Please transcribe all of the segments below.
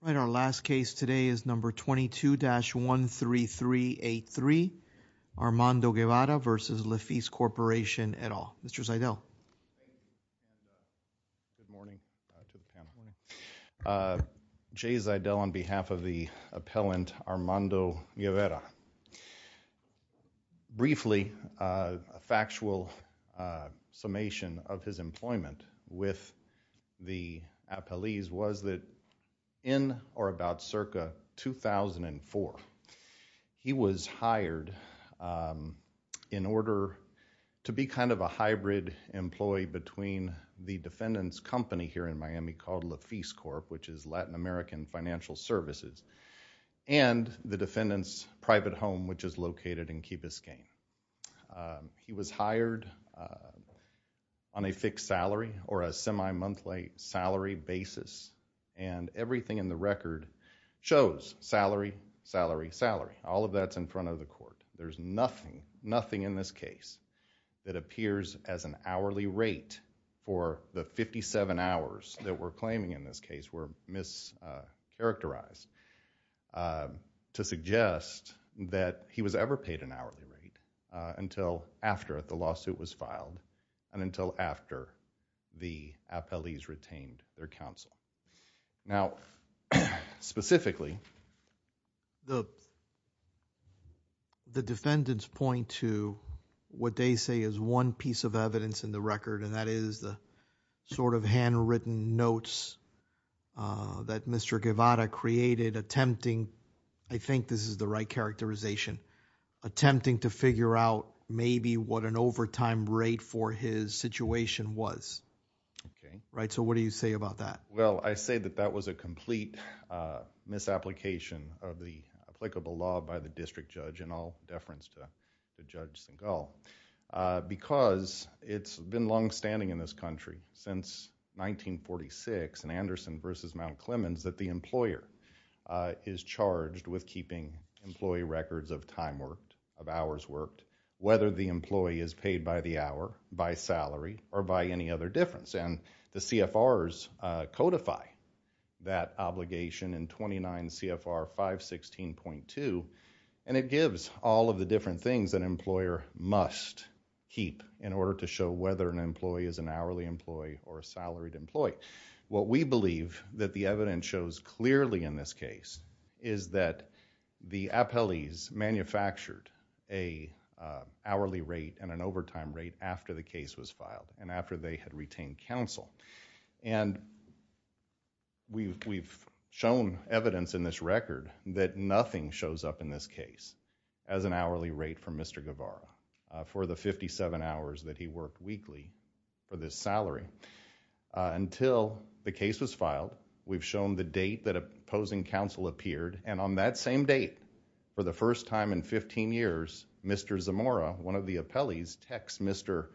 All right, our last case today is number 22-13383, Armando Guevara. Armando Guevara versus Lafice Corporation et al. Mr. Zeidel. Good morning. Jay Zeidel on behalf of the appellant Armando Guevara. Briefly, a factual summation of his employment with the appellees was that in or about circa 2004, he was hired in order to be kind of a hybrid employee between the defendant's company here in Miami called Lafice Corp. which is Latin American Financial Services and the defendant's private home which is located in Key Biscayne. He was hired on a fixed salary or a semi-monthly salary basis and everything in the record shows salary, salary, salary. All of that's in front of the court. There's nothing, nothing in this case that appears as an hourly rate for the fifty-seven hours that we're claiming in this case were mischaracterized to suggest that he was ever paid an hourly rate until after the lawsuit was filed and until after the appellees retained their counsel. Now, specifically, the defendants point to what they say is one piece of evidence in the record and that is the sort of handwritten notes that Mr. Guevara created attempting, I think this is the right characterization, attempting to figure out maybe what an overtime rate for his situation was. Okay. Right? So what do you say about that? Well, I say that that was a complete misapplication of the applicable law by the district judge in all deference to Judge Segal. Because it's been longstanding in this country since 1946 in Anderson versus Mount Clemens that the employer is charged with keeping employee records of time worked, of hours worked, whether the employee is paid by the hour, by salary, or by any other difference. The CFRs codify that obligation in 29 CFR 516.2 and it gives all of the different things that an employer must keep in order to show whether an employee is an hourly employee or a salaried employee. What we believe that the evidence shows clearly in this case is that the appellees manufactured a hourly rate and an overtime rate after the case was filed and after they had retained counsel. And we've shown evidence in this record that nothing shows up in this case as an hourly rate for Mr. Guevara for the 57 hours that he worked weekly for this salary until the case was filed. We've shown the date that opposing counsel appeared and on that same date for the first time in 15 years, Mr. Zamora, one of the appellees, texts Mr.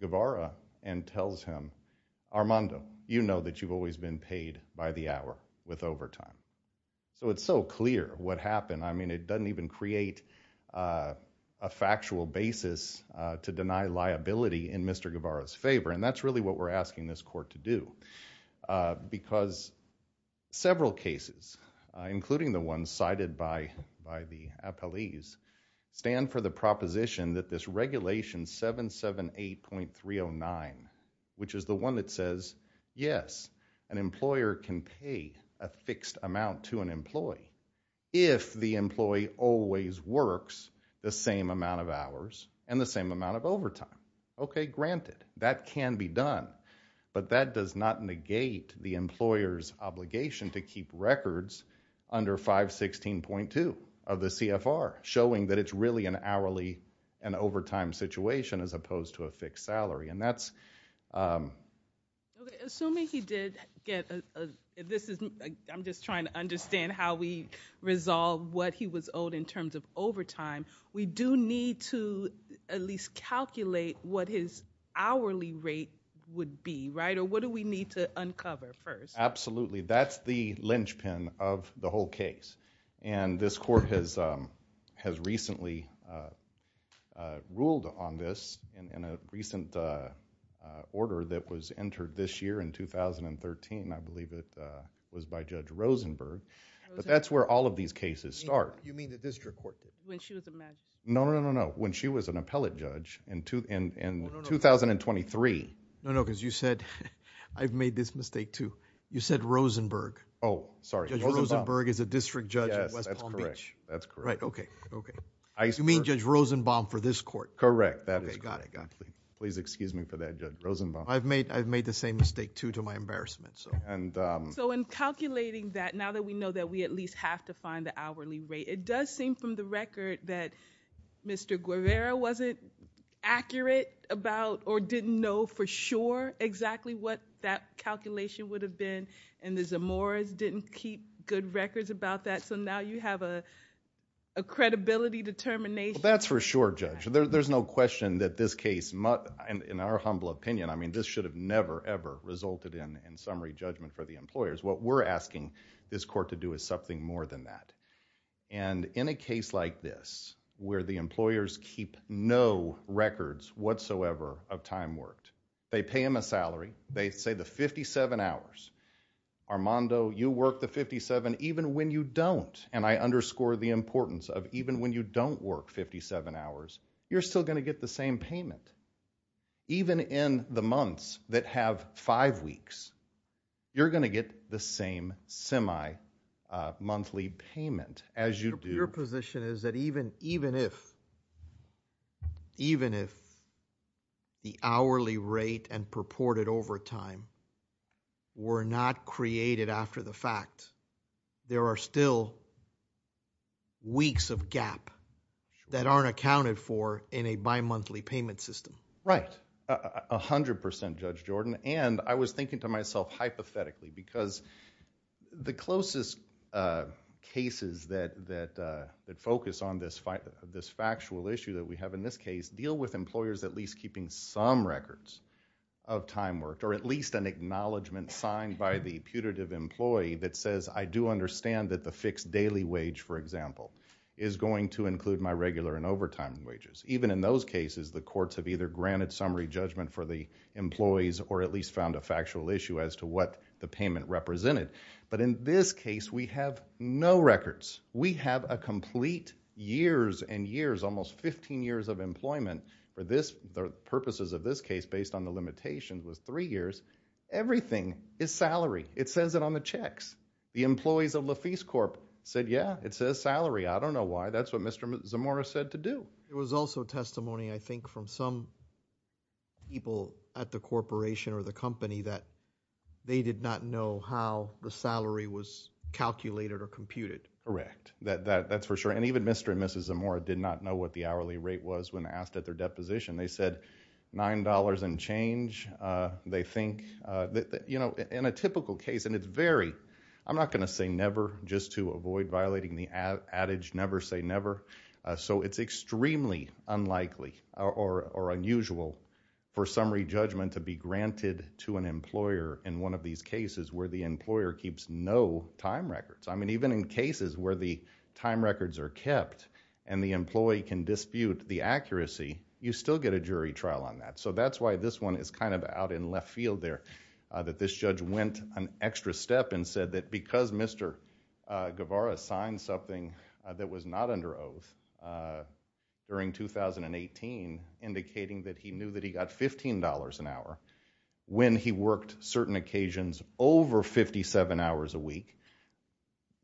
Guevara and tells him, Armando, you know that you've always been paid by the hour with overtime. So it's so clear what happened. I mean, it doesn't even create a factual basis to deny liability in Mr. Guevara's favor. And that's really what we're asking this court to do. Because several cases, including the one cited by the appellees, stand for the proposition that this regulation 778.309, which is the one that says, yes, an employer can pay a fixed amount to an employee if the employee always works the same amount of hours and the same amount of overtime. Okay, granted. That can be done. But that does not negate the employer's obligation to keep records under 516.2 of the CFR, showing that it's really an hourly and overtime situation as opposed to a fixed salary. And that's... Okay. Assuming he did get a, this is, I'm just trying to understand how we resolve what he was owed in terms of overtime. We do need to at least calculate what his hourly rate would be, right? Or what do we need to uncover first? Absolutely. That's the linchpin of the whole case. And this court has recently ruled on this in a recent order that was entered this year in 2013. I believe it was by Judge Rosenberg. But that's where all of these cases start. You mean the district court? When she was a magistrate. No, no, no, no. When she was an appellate judge in 2023. No, no, because you said, I've made this mistake too. You said Rosenberg. Oh, sorry. Judge Rosenberg is a district judge at West Palm Beach. Yes, that's correct. That's correct. Right, okay. Okay. You mean Judge Rosenbaum for this court? Correct. That is correct. Okay, got it, got it. Please excuse me for that, Judge Rosenbaum. I've made the same mistake too to my embarrassment. So... So in calculating that, now that we know that we at least have to find the hourly rate, it does seem from the record that Mr. Guevara wasn't accurate about or didn't know for sure exactly what that calculation would have been and the Zamora's didn't keep good records about that. So now you have a credibility determination. That's for sure, Judge. There's no question that this case, in our humble opinion, I mean this should have never ever resulted in summary judgment for the employers. What we're asking this court to do is something more than that. And in a case like this, where the employers keep no records whatsoever of time worked, they pay him a salary, they say the 57 hours, Armando, you work the 57 even when you don't and I underscore the importance of even when you don't work 57 hours, you're still going to get the same payment. Even in the months that have five weeks, you're going to get the same semi-monthly payment as you do... Your position is that even if, even if the hourly rate and purported overtime were not created after the fact, there are still weeks of gap that aren't accounted for in a bimonthly payment system. Right. A hundred percent, Judge Jordan. And I was thinking to myself hypothetically because the closest cases that focus on this factual issue that we have in this case deal with employers at least keeping some records of time worked or at least an acknowledgment signed by the putative employee that says I do understand that the fixed daily wage, for example, is going to include my regular and overtime wages. Even in those cases, the courts have either granted summary judgment for the employees or at least found a factual issue as to what the payment represented. But in this case, we have no records. We have a complete years and years, almost 15 years of employment for this, the purposes of this case based on the limitations was three years. Everything is salary. It says it on the checks. The employees of LaFece Corp said, yeah, it says salary. I don't know why. That's what Mr. Zamora said to do. There was also testimony, I think, from some people at the corporation or the company that they did not know how the salary was calculated or computed. Correct. That's for sure. And even Mr. and Mrs. Zamora did not know what the hourly rate was when asked at their deposition. They said $9 and change. They think, you know, in a typical case, and it's very, I'm not going to say never just to avoid violating the adage never say never. So it's extremely unlikely or unusual for summary judgment to be granted to an employer in one of these cases where the employer keeps no time records. I mean, even in cases where the time records are kept and the employee can dispute the accuracy, you still get a jury trial on that. So that's why this one is kind of out in left field there, that this judge went an extra step and said that because Mr. Guevara signed something that was not under oath during 2018, indicating that he knew that he got $15 an hour when he worked certain occasions over 57 hours a week,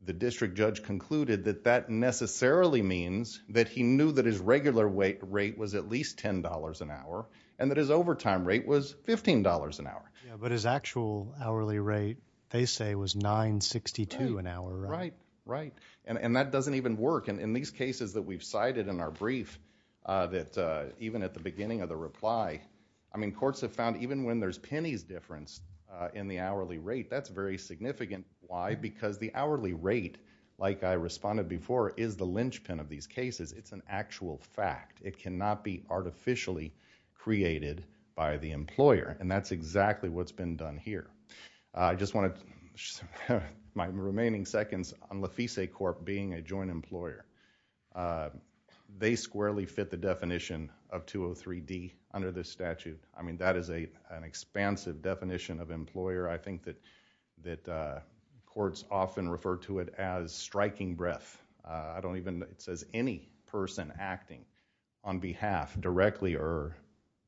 the district judge concluded that that necessarily means that he knew that his regular rate was at least $10 an hour and that his overtime rate was $15 an hour. But his actual hourly rate, they say, was $9.62 an hour, right? Right. And that doesn't even work. In these cases that we've cited in our brief, that even at the beginning of the reply, I mean, courts have found even when there's pennies difference in the hourly rate, that's very significant. Why? Because the hourly rate, like I responded before, is the linchpin of these cases. It's an actual fact. It cannot be artificially created by the employer. And that's exactly what's been done here. I just want to, my remaining seconds on Lefise Corp. being a joint employer, they squarely fit the definition of 203D under this statute. I mean, that is an expansive definition of employer. I think that courts often refer to it as striking breath. I don't even, it says any person acting on behalf, directly or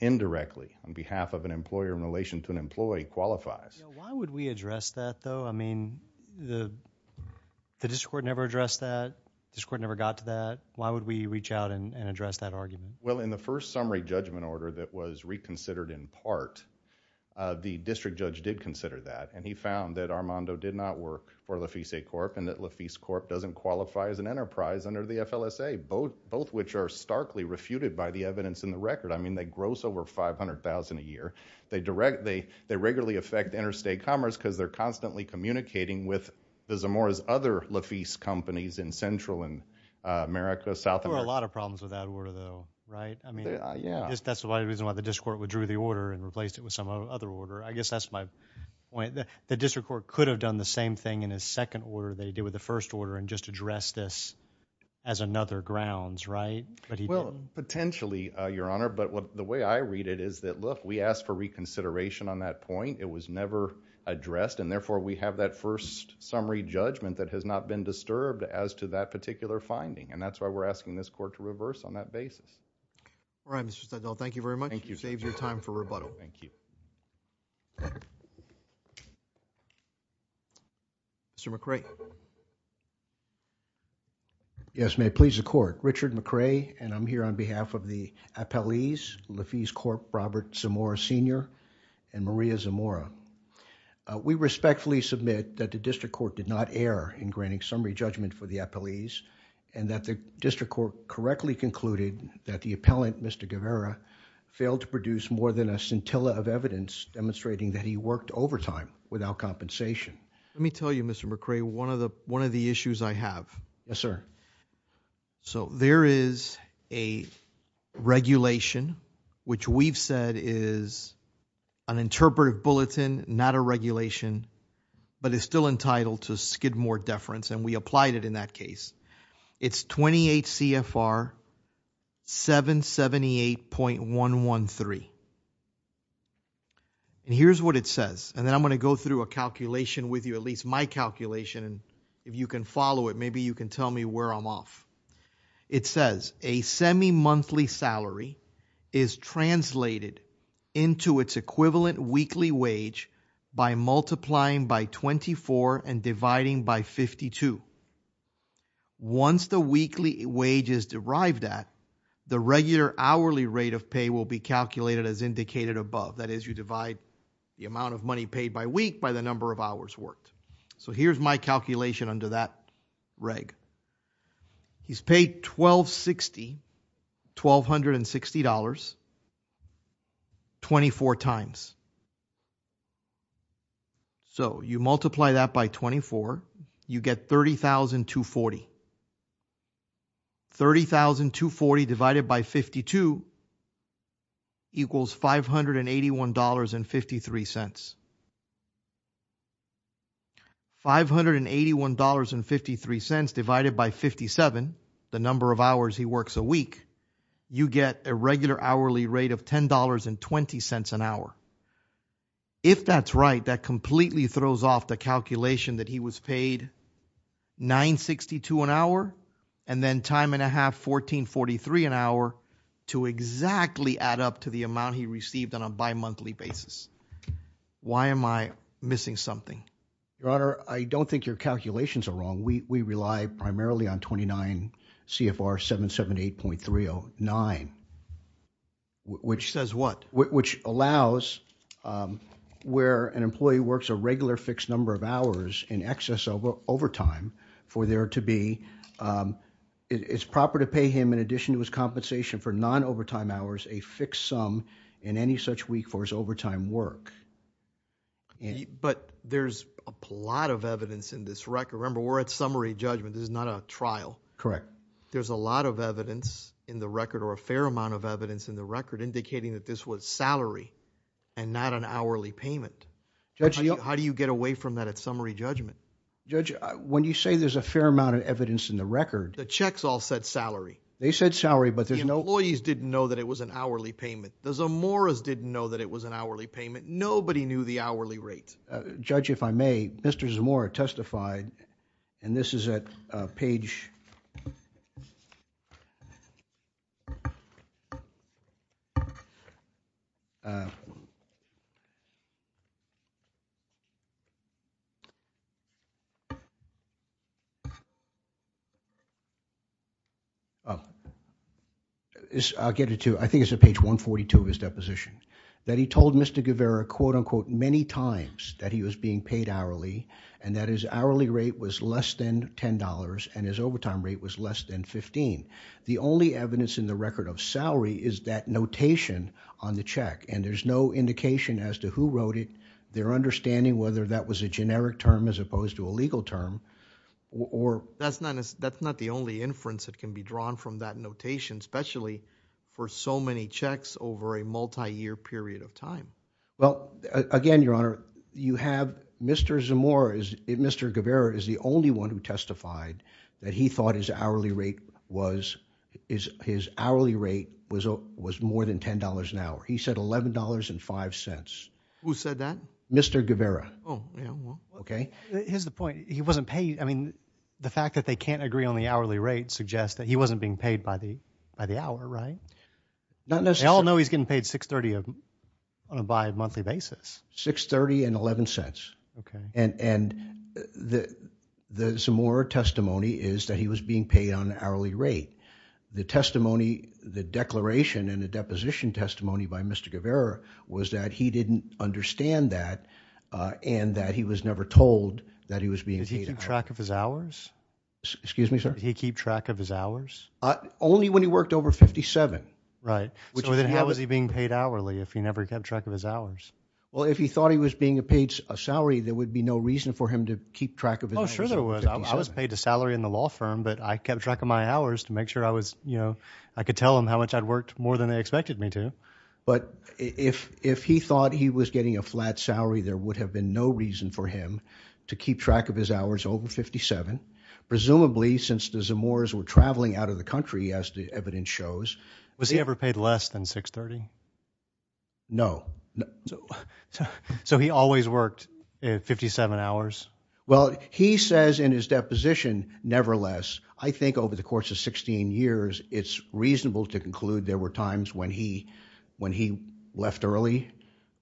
indirectly, on behalf of an employer in relation to an employee qualifies. Why would we address that, though? I mean, the district court never addressed that, the district court never got to that. Why would we reach out and address that argument? Well, in the first summary judgment order that was reconsidered in part, the district judge did consider that. And he found that Armando did not work for Lefise Corp. and that Lefise Corp. doesn't qualify as an enterprise under the FLSA, both which are starkly refuted by the evidence in the record. I mean, they gross over $500,000 a year. They regularly affect interstate commerce because they're constantly communicating with the Zamora's other Lefise companies in Central and America, South America. There were a lot of problems with that order, though, right? I mean, that's the reason why the district court withdrew the order and replaced it with some other order. I guess that's my point. The district court could have done the same thing in a second order they did with the Lefise Corp. They could have addressed this as another grounds, right? Well, potentially, Your Honor, but the way I read it is that, look, we asked for reconsideration on that point. It was never addressed, and therefore, we have that first summary judgment that has not been disturbed as to that particular finding, and that's why we're asking this court to reverse on that basis. All right, Mr. Studdall. Thank you very much. Thank you. You saved your time for rebuttal. Thank you. Mr. McRae. Yes, may it please the Court. Richard McRae, and I'm here on behalf of the appellees, Lefise Corp., Robert Zamora, Sr., and Maria Zamora. We respectfully submit that the district court did not err in granting summary judgment for the appellees, and that the district court correctly concluded that the appellant, Mr. Guevara, failed to produce more than a scintilla of evidence demonstrating that he worked overtime without compensation. Let me tell you, Mr. McRae, one of the issues I have. Yes, sir. So there is a regulation which we've said is an interpretive bulletin, not a regulation, but it's still entitled to skidmore deference, and we applied it in that case. It's 28 CFR 778.113, and here's what it says, and then I'm going to go through a calculation with you, at least my calculation, and if you can follow it, maybe you can tell me where I'm off. It says a semi-monthly salary is translated into its equivalent weekly wage by multiplying by 24 and dividing by 52. Once the weekly wage is derived at, the regular hourly rate of pay will be calculated as indicated above. That is, you divide the amount of money paid by week by the number of hours worked. So here's my calculation under that reg. He's paid $1,260, $1,260, 24 times. So you multiply that by 24. You get $30,240, $30,240 divided by 52 equals $581.53, $581.53 divided by 57, the number of hours he works a week, you get a regular hourly rate of $10.20 an hour. If that's right, that completely throws off the calculation that he was paid $9.62 an hour and then time and a half, $14.43 an hour to exactly add up to the amount he received on a bimonthly basis. Why am I missing something? Your Honor, I don't think your calculations are wrong. We rely primarily on 29 CFR 778.309. Which says what? Which allows where an employee works a regular fixed number of hours in excess of overtime for there to be, it's proper to pay him in addition to his compensation for non-overtime hours a fixed sum in any such week for his overtime work. But there's a lot of evidence in this record. Remember we're at summary judgment, this is not a trial. Correct. There's a lot of evidence in the record or a fair amount of evidence in the record indicating that this was salary and not an hourly payment. Judge, how do you get away from that at summary judgment? Judge, when you say there's a fair amount of evidence in the record. The checks all said salary. They said salary but there's no... The employees didn't know that it was an hourly payment. The Zamoras didn't know that it was an hourly payment. Nobody knew the hourly rate. Judge, if I may, Mr. Zamora testified and this is at page... I'll get it to, I think it's at page 142 of his deposition. That he told Mr. Guevara, quote unquote, many times that he was being paid hourly and that his hourly rate was less than $10 and his overtime rate was less than 15. The only evidence in the record of salary is that notation on the check and there's no indication as to who wrote it. Their understanding whether that was a generic term as opposed to a legal term or... That's not the only inference that can be drawn from that notation, especially for so a multi-year period of time. Well, again, your honor, you have Mr. Zamora, Mr. Guevara is the only one who testified that he thought his hourly rate was more than $10 an hour. He said $11.05. Who said that? Mr. Guevara. Oh, yeah, well... Okay? Here's the point. He wasn't paid... I mean, the fact that they can't agree on the hourly rate suggests that he wasn't being paid by the hour, right? Not necessarily. But we all know he's getting paid $6.30 on a bi-monthly basis. $6.30 and $0.11. And the Zamora testimony is that he was being paid on hourly rate. The testimony, the declaration and the deposition testimony by Mr. Guevara was that he didn't understand that and that he was never told that he was being paid an hour. Did he keep track of his hours? Excuse me, sir? Did he keep track of his hours? Only when he worked over 57. Right. So then how was he being paid hourly if he never kept track of his hours? Well, if he thought he was being paid a salary, there would be no reason for him to keep track of his hours. Oh, sure there was. I was paid a salary in the law firm, but I kept track of my hours to make sure I was, you know, I could tell them how much I'd worked more than they expected me to. But if he thought he was getting a flat salary, there would have been no reason for him to keep track of his hours over 57, presumably since the Zamoras were traveling out of the country, as the evidence shows. Was he ever paid less than 630? No. So he always worked 57 hours? Well, he says in his deposition, nevertheless, I think over the course of 16 years, it's reasonable to conclude there were times when he when he left early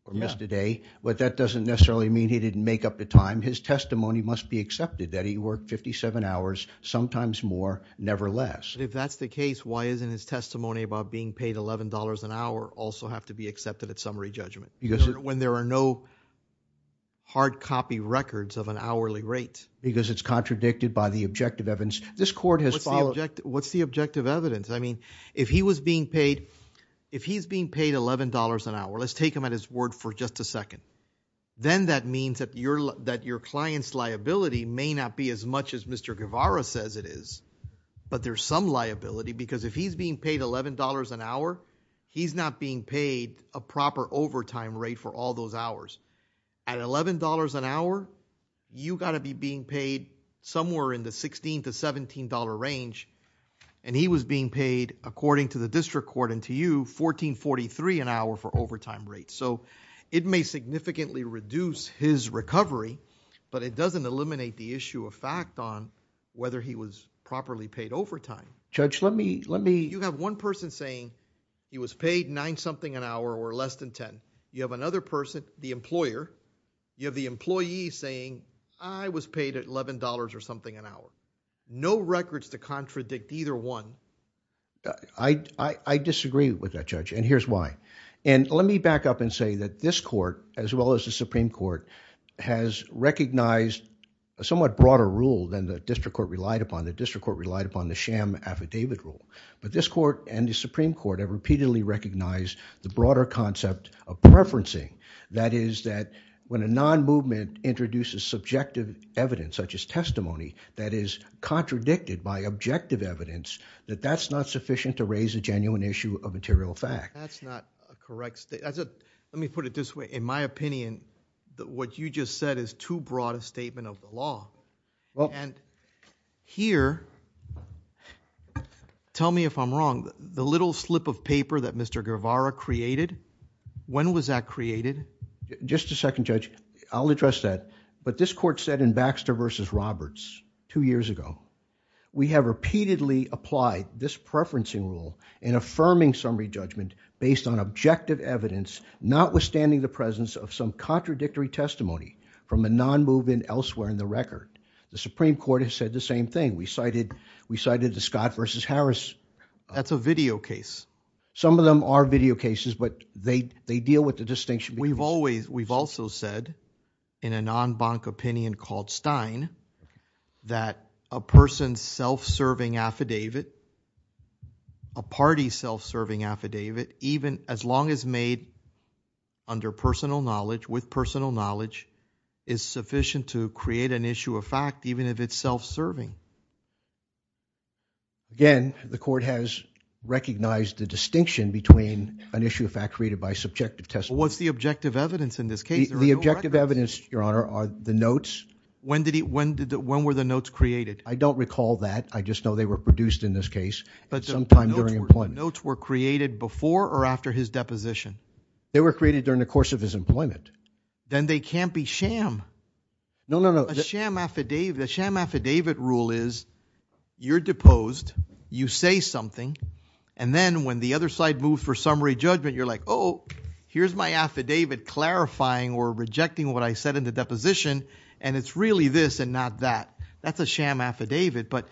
or missed a day. But that doesn't necessarily mean he didn't make up the time. His testimony must be accepted that he worked 57 hours, sometimes more, never less. If that's the case, why isn't his testimony about being paid $11 an hour also have to be accepted at summary judgment? When there are no hard copy records of an hourly rate? Because it's contradicted by the objective evidence. This court has followed. What's the objective evidence? I mean, if he was being paid, if he's being paid $11 an hour, let's take him at his word for just a second. Then that means that your that your client's liability may not be as much as Mr. Guevara says it is. But there's some liability because if he's being paid $11 an hour, he's not being paid a proper overtime rate for all those hours at $11 an hour. You got to be being paid somewhere in the 16 to $17 range. And he was being paid according to the district court and to you 1443 an hour for overtime rates. So it may significantly reduce his recovery, but it doesn't eliminate the issue of fact on whether he was properly paid overtime. Judge let me let me you have one person saying he was paid nine something an hour or less than 10. You have another person, the employer, you have the employee saying I was paid at $11 or something an hour. No records to contradict either one. I disagree with that judge and here's why. And let me back up and say that this court as well as the Supreme Court has recognized a somewhat broader rule than the district court relied upon. The district court relied upon the sham affidavit rule, but this court and the Supreme Court have repeatedly recognized the broader concept of preferencing. That is that when a non-movement introduces subjective evidence such as testimony that is contradicted by objective evidence, that that's not sufficient to raise a genuine issue of material fact. That's not a correct statement. Let me put it this way. In my opinion, what you just said is too broad a statement of the law. And here, tell me if I'm wrong, the little slip of paper that Mr. Guevara created, when was that created? Just a second judge. I'll address that. But this court said in Baxter v. Roberts two years ago, we have repeatedly applied this evidence, notwithstanding the presence of some contradictory testimony from a non-movement elsewhere in the record. The Supreme Court has said the same thing. We cited the Scott v. Harris. That's a video case. Some of them are video cases, but they deal with the distinction. We've also said in a non-bank opinion called Stein that a person's self-serving affidavit, a party's self-serving affidavit, even as long as made under personal knowledge, with personal knowledge, is sufficient to create an issue of fact, even if it's self-serving. Again, the court has recognized the distinction between an issue of fact created by subjective testimony. What's the objective evidence in this case? The objective evidence, your honor, are the notes. When were the notes created? I don't recall that. I just know they were produced in this case sometime during employment. Notes were created before or after his deposition? They were created during the course of his employment. Then they can't be sham. No, no, no. A sham affidavit rule is you're deposed, you say something, and then when the other side moves for summary judgment, you're like, oh, here's my affidavit clarifying or rejecting what I said in the deposition, and it's really this and not that. That's a sham affidavit, but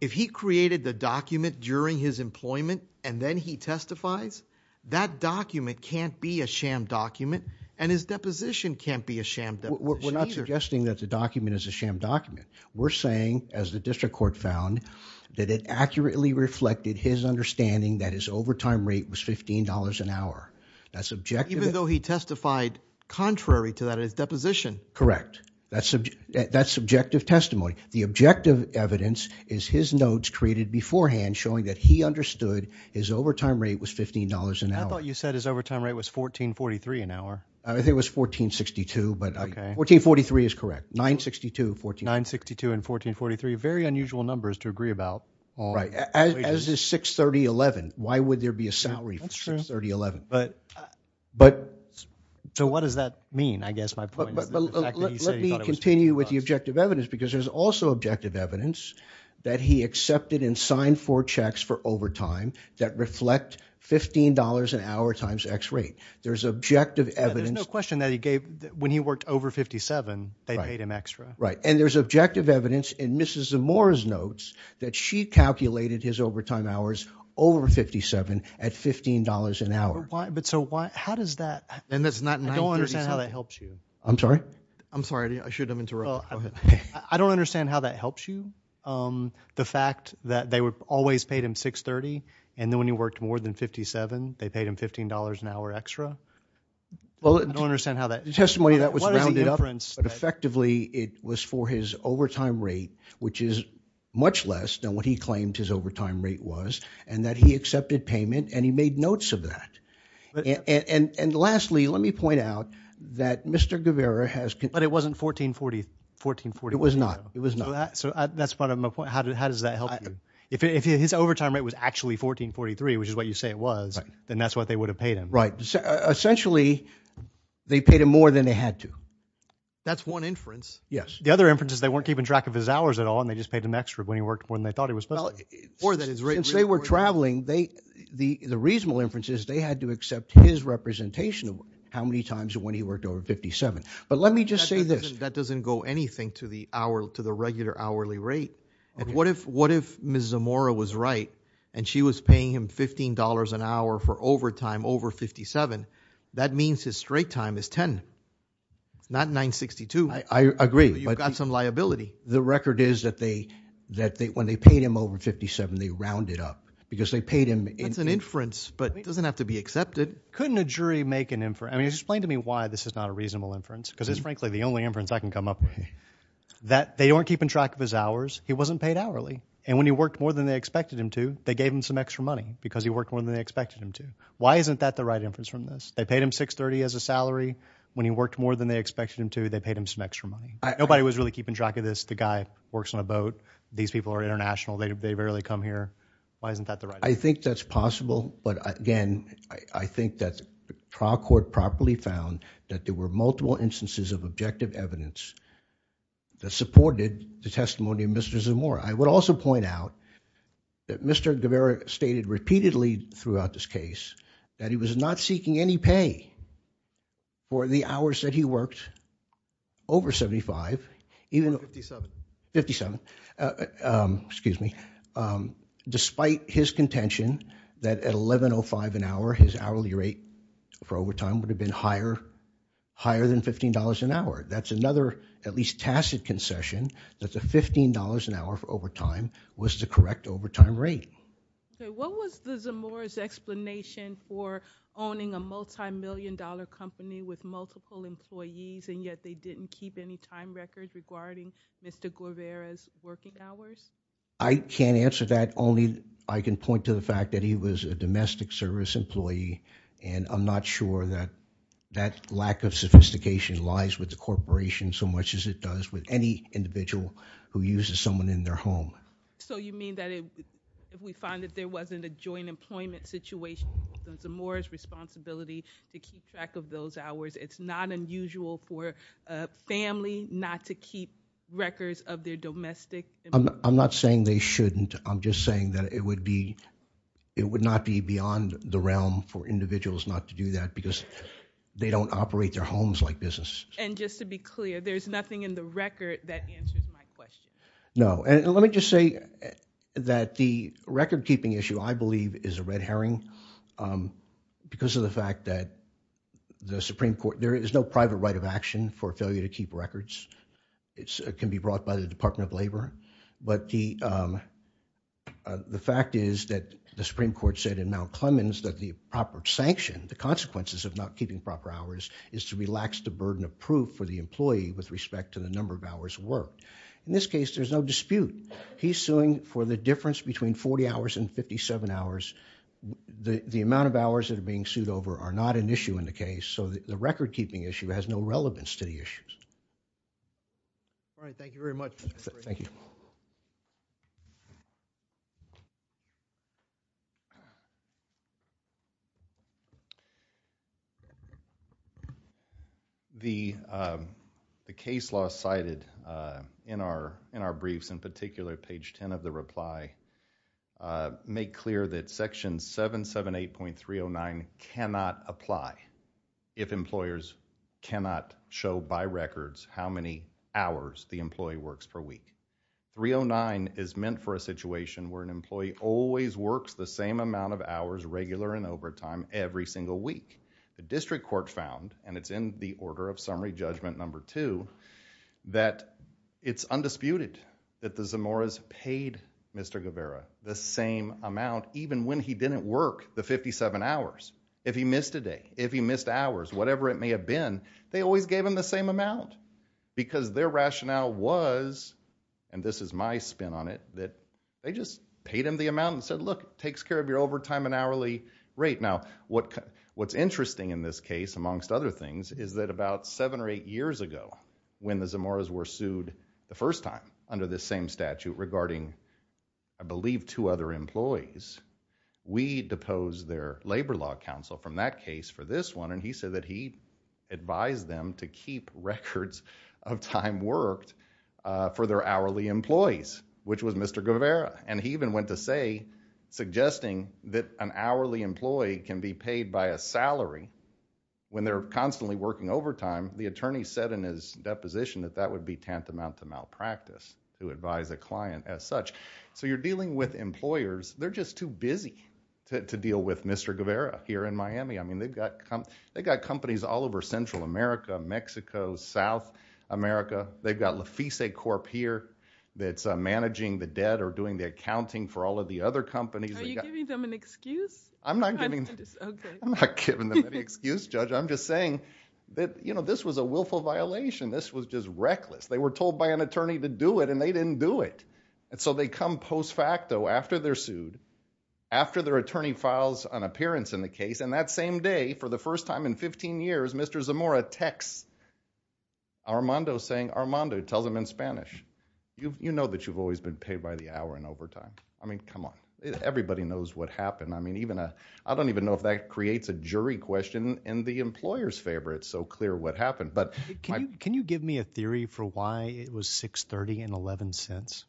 if he created the document during his employment and then he testifies, that document can't be a sham document, and his deposition can't be a sham deposition either. We're not suggesting that the document is a sham document. We're saying, as the district court found, that it accurately reflected his understanding that his overtime rate was $15 an hour. That's objective. Even though he testified contrary to that in his deposition. Correct. That's subjective testimony. The objective evidence is his notes created beforehand showing that he understood his overtime rate was $15 an hour. I thought you said his overtime rate was $14.43 an hour. I think it was $14.62, but $14.43 is correct. $9.62, $14.43. $9.62 and $14.43, very unusual numbers to agree about. Right. As is $6.3011. Why would there be a salary for $6.3011? But, so what does that mean? I guess my point is that the fact that he said he thought it was $6.3011. Let me continue with the objective evidence, because there's also objective evidence that he accepted and signed four checks for overtime that reflect $15 an hour times X rate. There's objective evidence. Yeah, there's no question that he gave, when he worked over 57, they paid him extra. Right, and there's objective evidence in Mrs. Zamora's notes that she calculated his overtime hours over 57 at $15 an hour. But so why, how does that? And that's not $9.37. I don't understand how that helps you. I'm sorry? I'm sorry. I shouldn't have interrupted. Go ahead. I don't understand how that helps you, the fact that they always paid him $6.30, and then when he worked more than 57, they paid him $15 an hour extra. I don't understand how that. The testimony that was rounded up, but effectively it was for his overtime rate, which is much less than what he claimed his overtime rate was, and that he accepted payment and he made notes of that. And lastly, let me point out that Mr. Guevara has... But it wasn't $14.40. $14.40. It was not. It was not. So that's part of my point. How does that help you? If his overtime rate was actually $14.43, which is what you say it was, then that's what they would have paid him. Right. Essentially, they paid him more than they had to. That's one inference. Yes. The other inference is they weren't keeping track of his hours at all, and they just paid him extra when he worked more than they thought he was supposed to. Since they were traveling, the reasonable inference is they had to accept his representation of how many times when he worked over 57. But let me just say this. That doesn't go anything to the regular hourly rate. What if Ms. Zamora was right and she was paying him $15 an hour for overtime over 57? That means his straight time is 10. Not 9.62. I agree. You've got some liability. The record is that when they paid him over 57, they rounded up, because they paid him in... That's an inference, but it doesn't have to be accepted. Couldn't a jury make an inference? I mean, explain to me why this is not a reasonable inference, because it's frankly the only inference I can come up with. They weren't keeping track of his hours. He wasn't paid hourly. And when he worked more than they expected him to, they gave him some extra money because he worked more than they expected him to. Why isn't that the right inference from this? They paid him $6.30 as a salary. When he worked more than they expected him to, they paid him some extra money. Nobody was really keeping track of this. The guy works on a boat. These people are international. They rarely come here. Why isn't that the right... I think that's possible, but again, I think that the trial court properly found that there were multiple instances of objective evidence that supported the testimony of Mr. Zamora. I would also point out that Mr. Guevara stated repeatedly throughout this case that he was not seeking any pay for the hours that he worked over 75, even though 57, despite his contention that at 11.05 an hour, his hourly rate for overtime would have been higher than $15 an hour. That's another at least tacit concession that the $15 an hour for overtime was the correct overtime rate. What was the Zamora's explanation for owning a multi-million dollar company with multiple employees and yet they didn't keep any time record regarding Mr. Guevara's working hours? I can't answer that. I can point to the fact that he was a domestic service employee and I'm not sure that that lack of sophistication lies with the corporation so much as it does with any individual who uses someone in their home. So you mean that if we find that there wasn't a joint employment situation, it's Zamora's responsibility to keep track of those hours. It's not unusual for a family not to keep records of their domestic employees? I'm not saying they shouldn't. I'm just saying that it would be, it would not be beyond the realm for individuals not to do that because they don't operate their homes like businesses. And just to be clear, there's nothing in the record that answers my question. No, and let me just say that the record keeping issue I believe is a red herring because of the fact that the Supreme Court, there is no private right of action for failure to keep records. It can be brought by the Department of Labor, but the fact is that the Supreme Court said in Mount Clemens that the proper sanction, the consequences of not keeping proper hours is to relax the burden of proof for the employee with respect to the number of hours worked. In this case, there's no dispute. He's suing for the difference between 40 hours and 57 hours. The amount of hours that are being sued over are not an issue in the case, so the record keeping issue has no relevance to the issues. All right, thank you very much. Thank you. The case law cited in our briefs, in particular page 10 of the reply, make clear that section 778.309 cannot apply if employers cannot show by records how many hours the employee works per week. 309 is meant for a situation where an employee always works the same amount of hours regular in overtime every single week. The district court found and it's in the order of summary judgment number two that it's undisputed that the Zamora's paid Mr. Guevara the same amount even when he didn't work the 57 hours. If he missed a day, if he missed hours, whatever it may have been, they always gave him the is my spin on it that they just paid him the amount and said, look, it takes care of your overtime and hourly rate. Now, what's interesting in this case amongst other things is that about seven or eight years ago when the Zamora's were sued the first time under the same statute regarding I believe two other employees, we deposed their labor law counsel from that case for this one and he said that he advised them to keep records of time worked for their hourly employees which was Mr. Guevara and he even went to say suggesting that an hourly employee can be paid by a salary when they're constantly working overtime, the attorney said in his deposition that that would be tantamount to malpractice to advise a client as such. So you're dealing with employers, they're just too busy to deal with Mr. Guevara here in Miami. I mean, they've got companies all over Central America, Mexico, South America, they've got Lafice Corp here that's managing the debt or doing the accounting for all of the other companies. Are you giving them an excuse? I'm not giving... Okay. I'm not giving them any excuse, Judge. I'm just saying that this was a willful violation. This was just reckless. They were told by an attorney to do it and they didn't do it. So they come post facto after they're sued, after their attorney files an appearance in the case and that same day, for the first time in 15 years, Mr. Zamora texts Armando saying Armando, tells him in Spanish, you know that you've always been paid by the hour in overtime. I mean, come on. Everybody knows what happened. I mean, even a... I don't even know if that creates a jury question in the employer's favor. It's so clear what happened. But... Can you give me a theory for why it was 630 and 11 cents?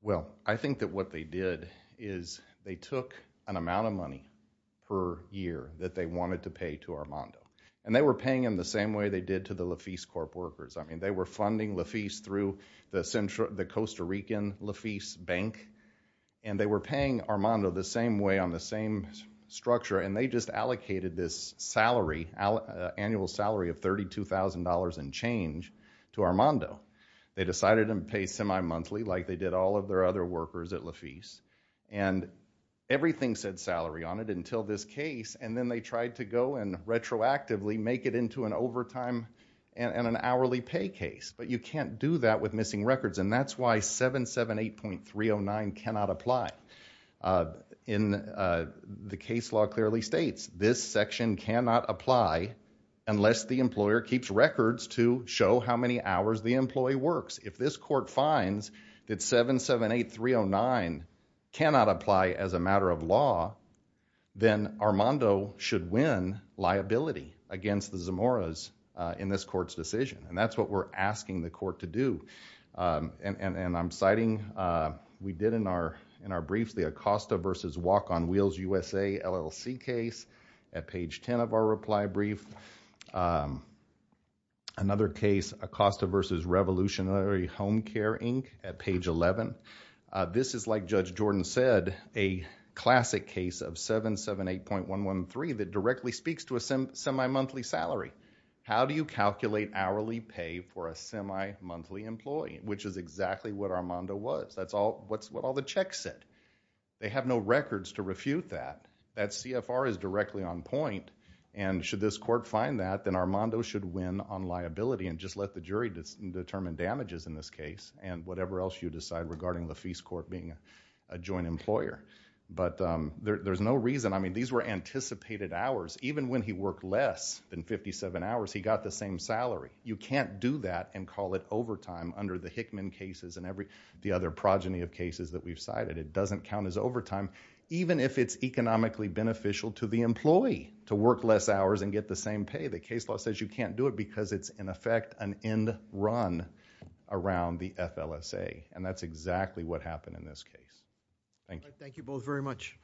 Well, I think that what they did is they took an amount of money per year that they wanted to pay to Armando and they were paying him the same way they did to the Lafice Corp workers. I mean, they were funding Lafice through the Costa Rican Lafice Bank and they were paying Armando the same way on the same structure and they just allocated this salary, annual salary of $32,000 and change to Armando. They decided to pay semi-monthly like they did all of their other workers at Lafice and everything said salary on it until this case and then they tried to go and retroactively make it into an overtime and an hourly pay case. But you can't do that with missing records and that's why 778.309 cannot apply. In the case law clearly states, this section cannot apply unless the employer keeps records to show how many hours the employee works. If this court finds that 778.309 cannot apply as a matter of law, then Armando should win liability against the Zamoras in this court's decision and that's what we're asking the court to do. I'm citing, we did in our brief, the Acosta versus Walk on Wheels USA LLC case at page 10 of our reply brief. Another case, Acosta versus Revolutionary Home Care Inc. at page 11. This is like Judge Jordan said, a classic case of 778.113 that directly speaks to a semi-monthly salary. How do you calculate hourly pay for a semi-monthly employee, which is exactly what Armando was. That's what all the checks said. They have no records to refute that. That CFR is directly on point and should this court find that, then Armando should win on liability and just let the jury determine damages in this case and whatever else you decide regarding LaFeist Court being a joint employer. There's no reason. These were anticipated hours. Even when he worked less than 57 hours, he got the same salary. You can't do that and call it overtime under the Hickman cases and the other progeny of cases that we've cited. It doesn't count as overtime, even if it's economically beneficial to the employee to work less hours and get the same pay. The case law says you can't do it because it's, in effect, an end run around the FLSA. That's exactly what happened in this case. Thank you. Thank you both very much.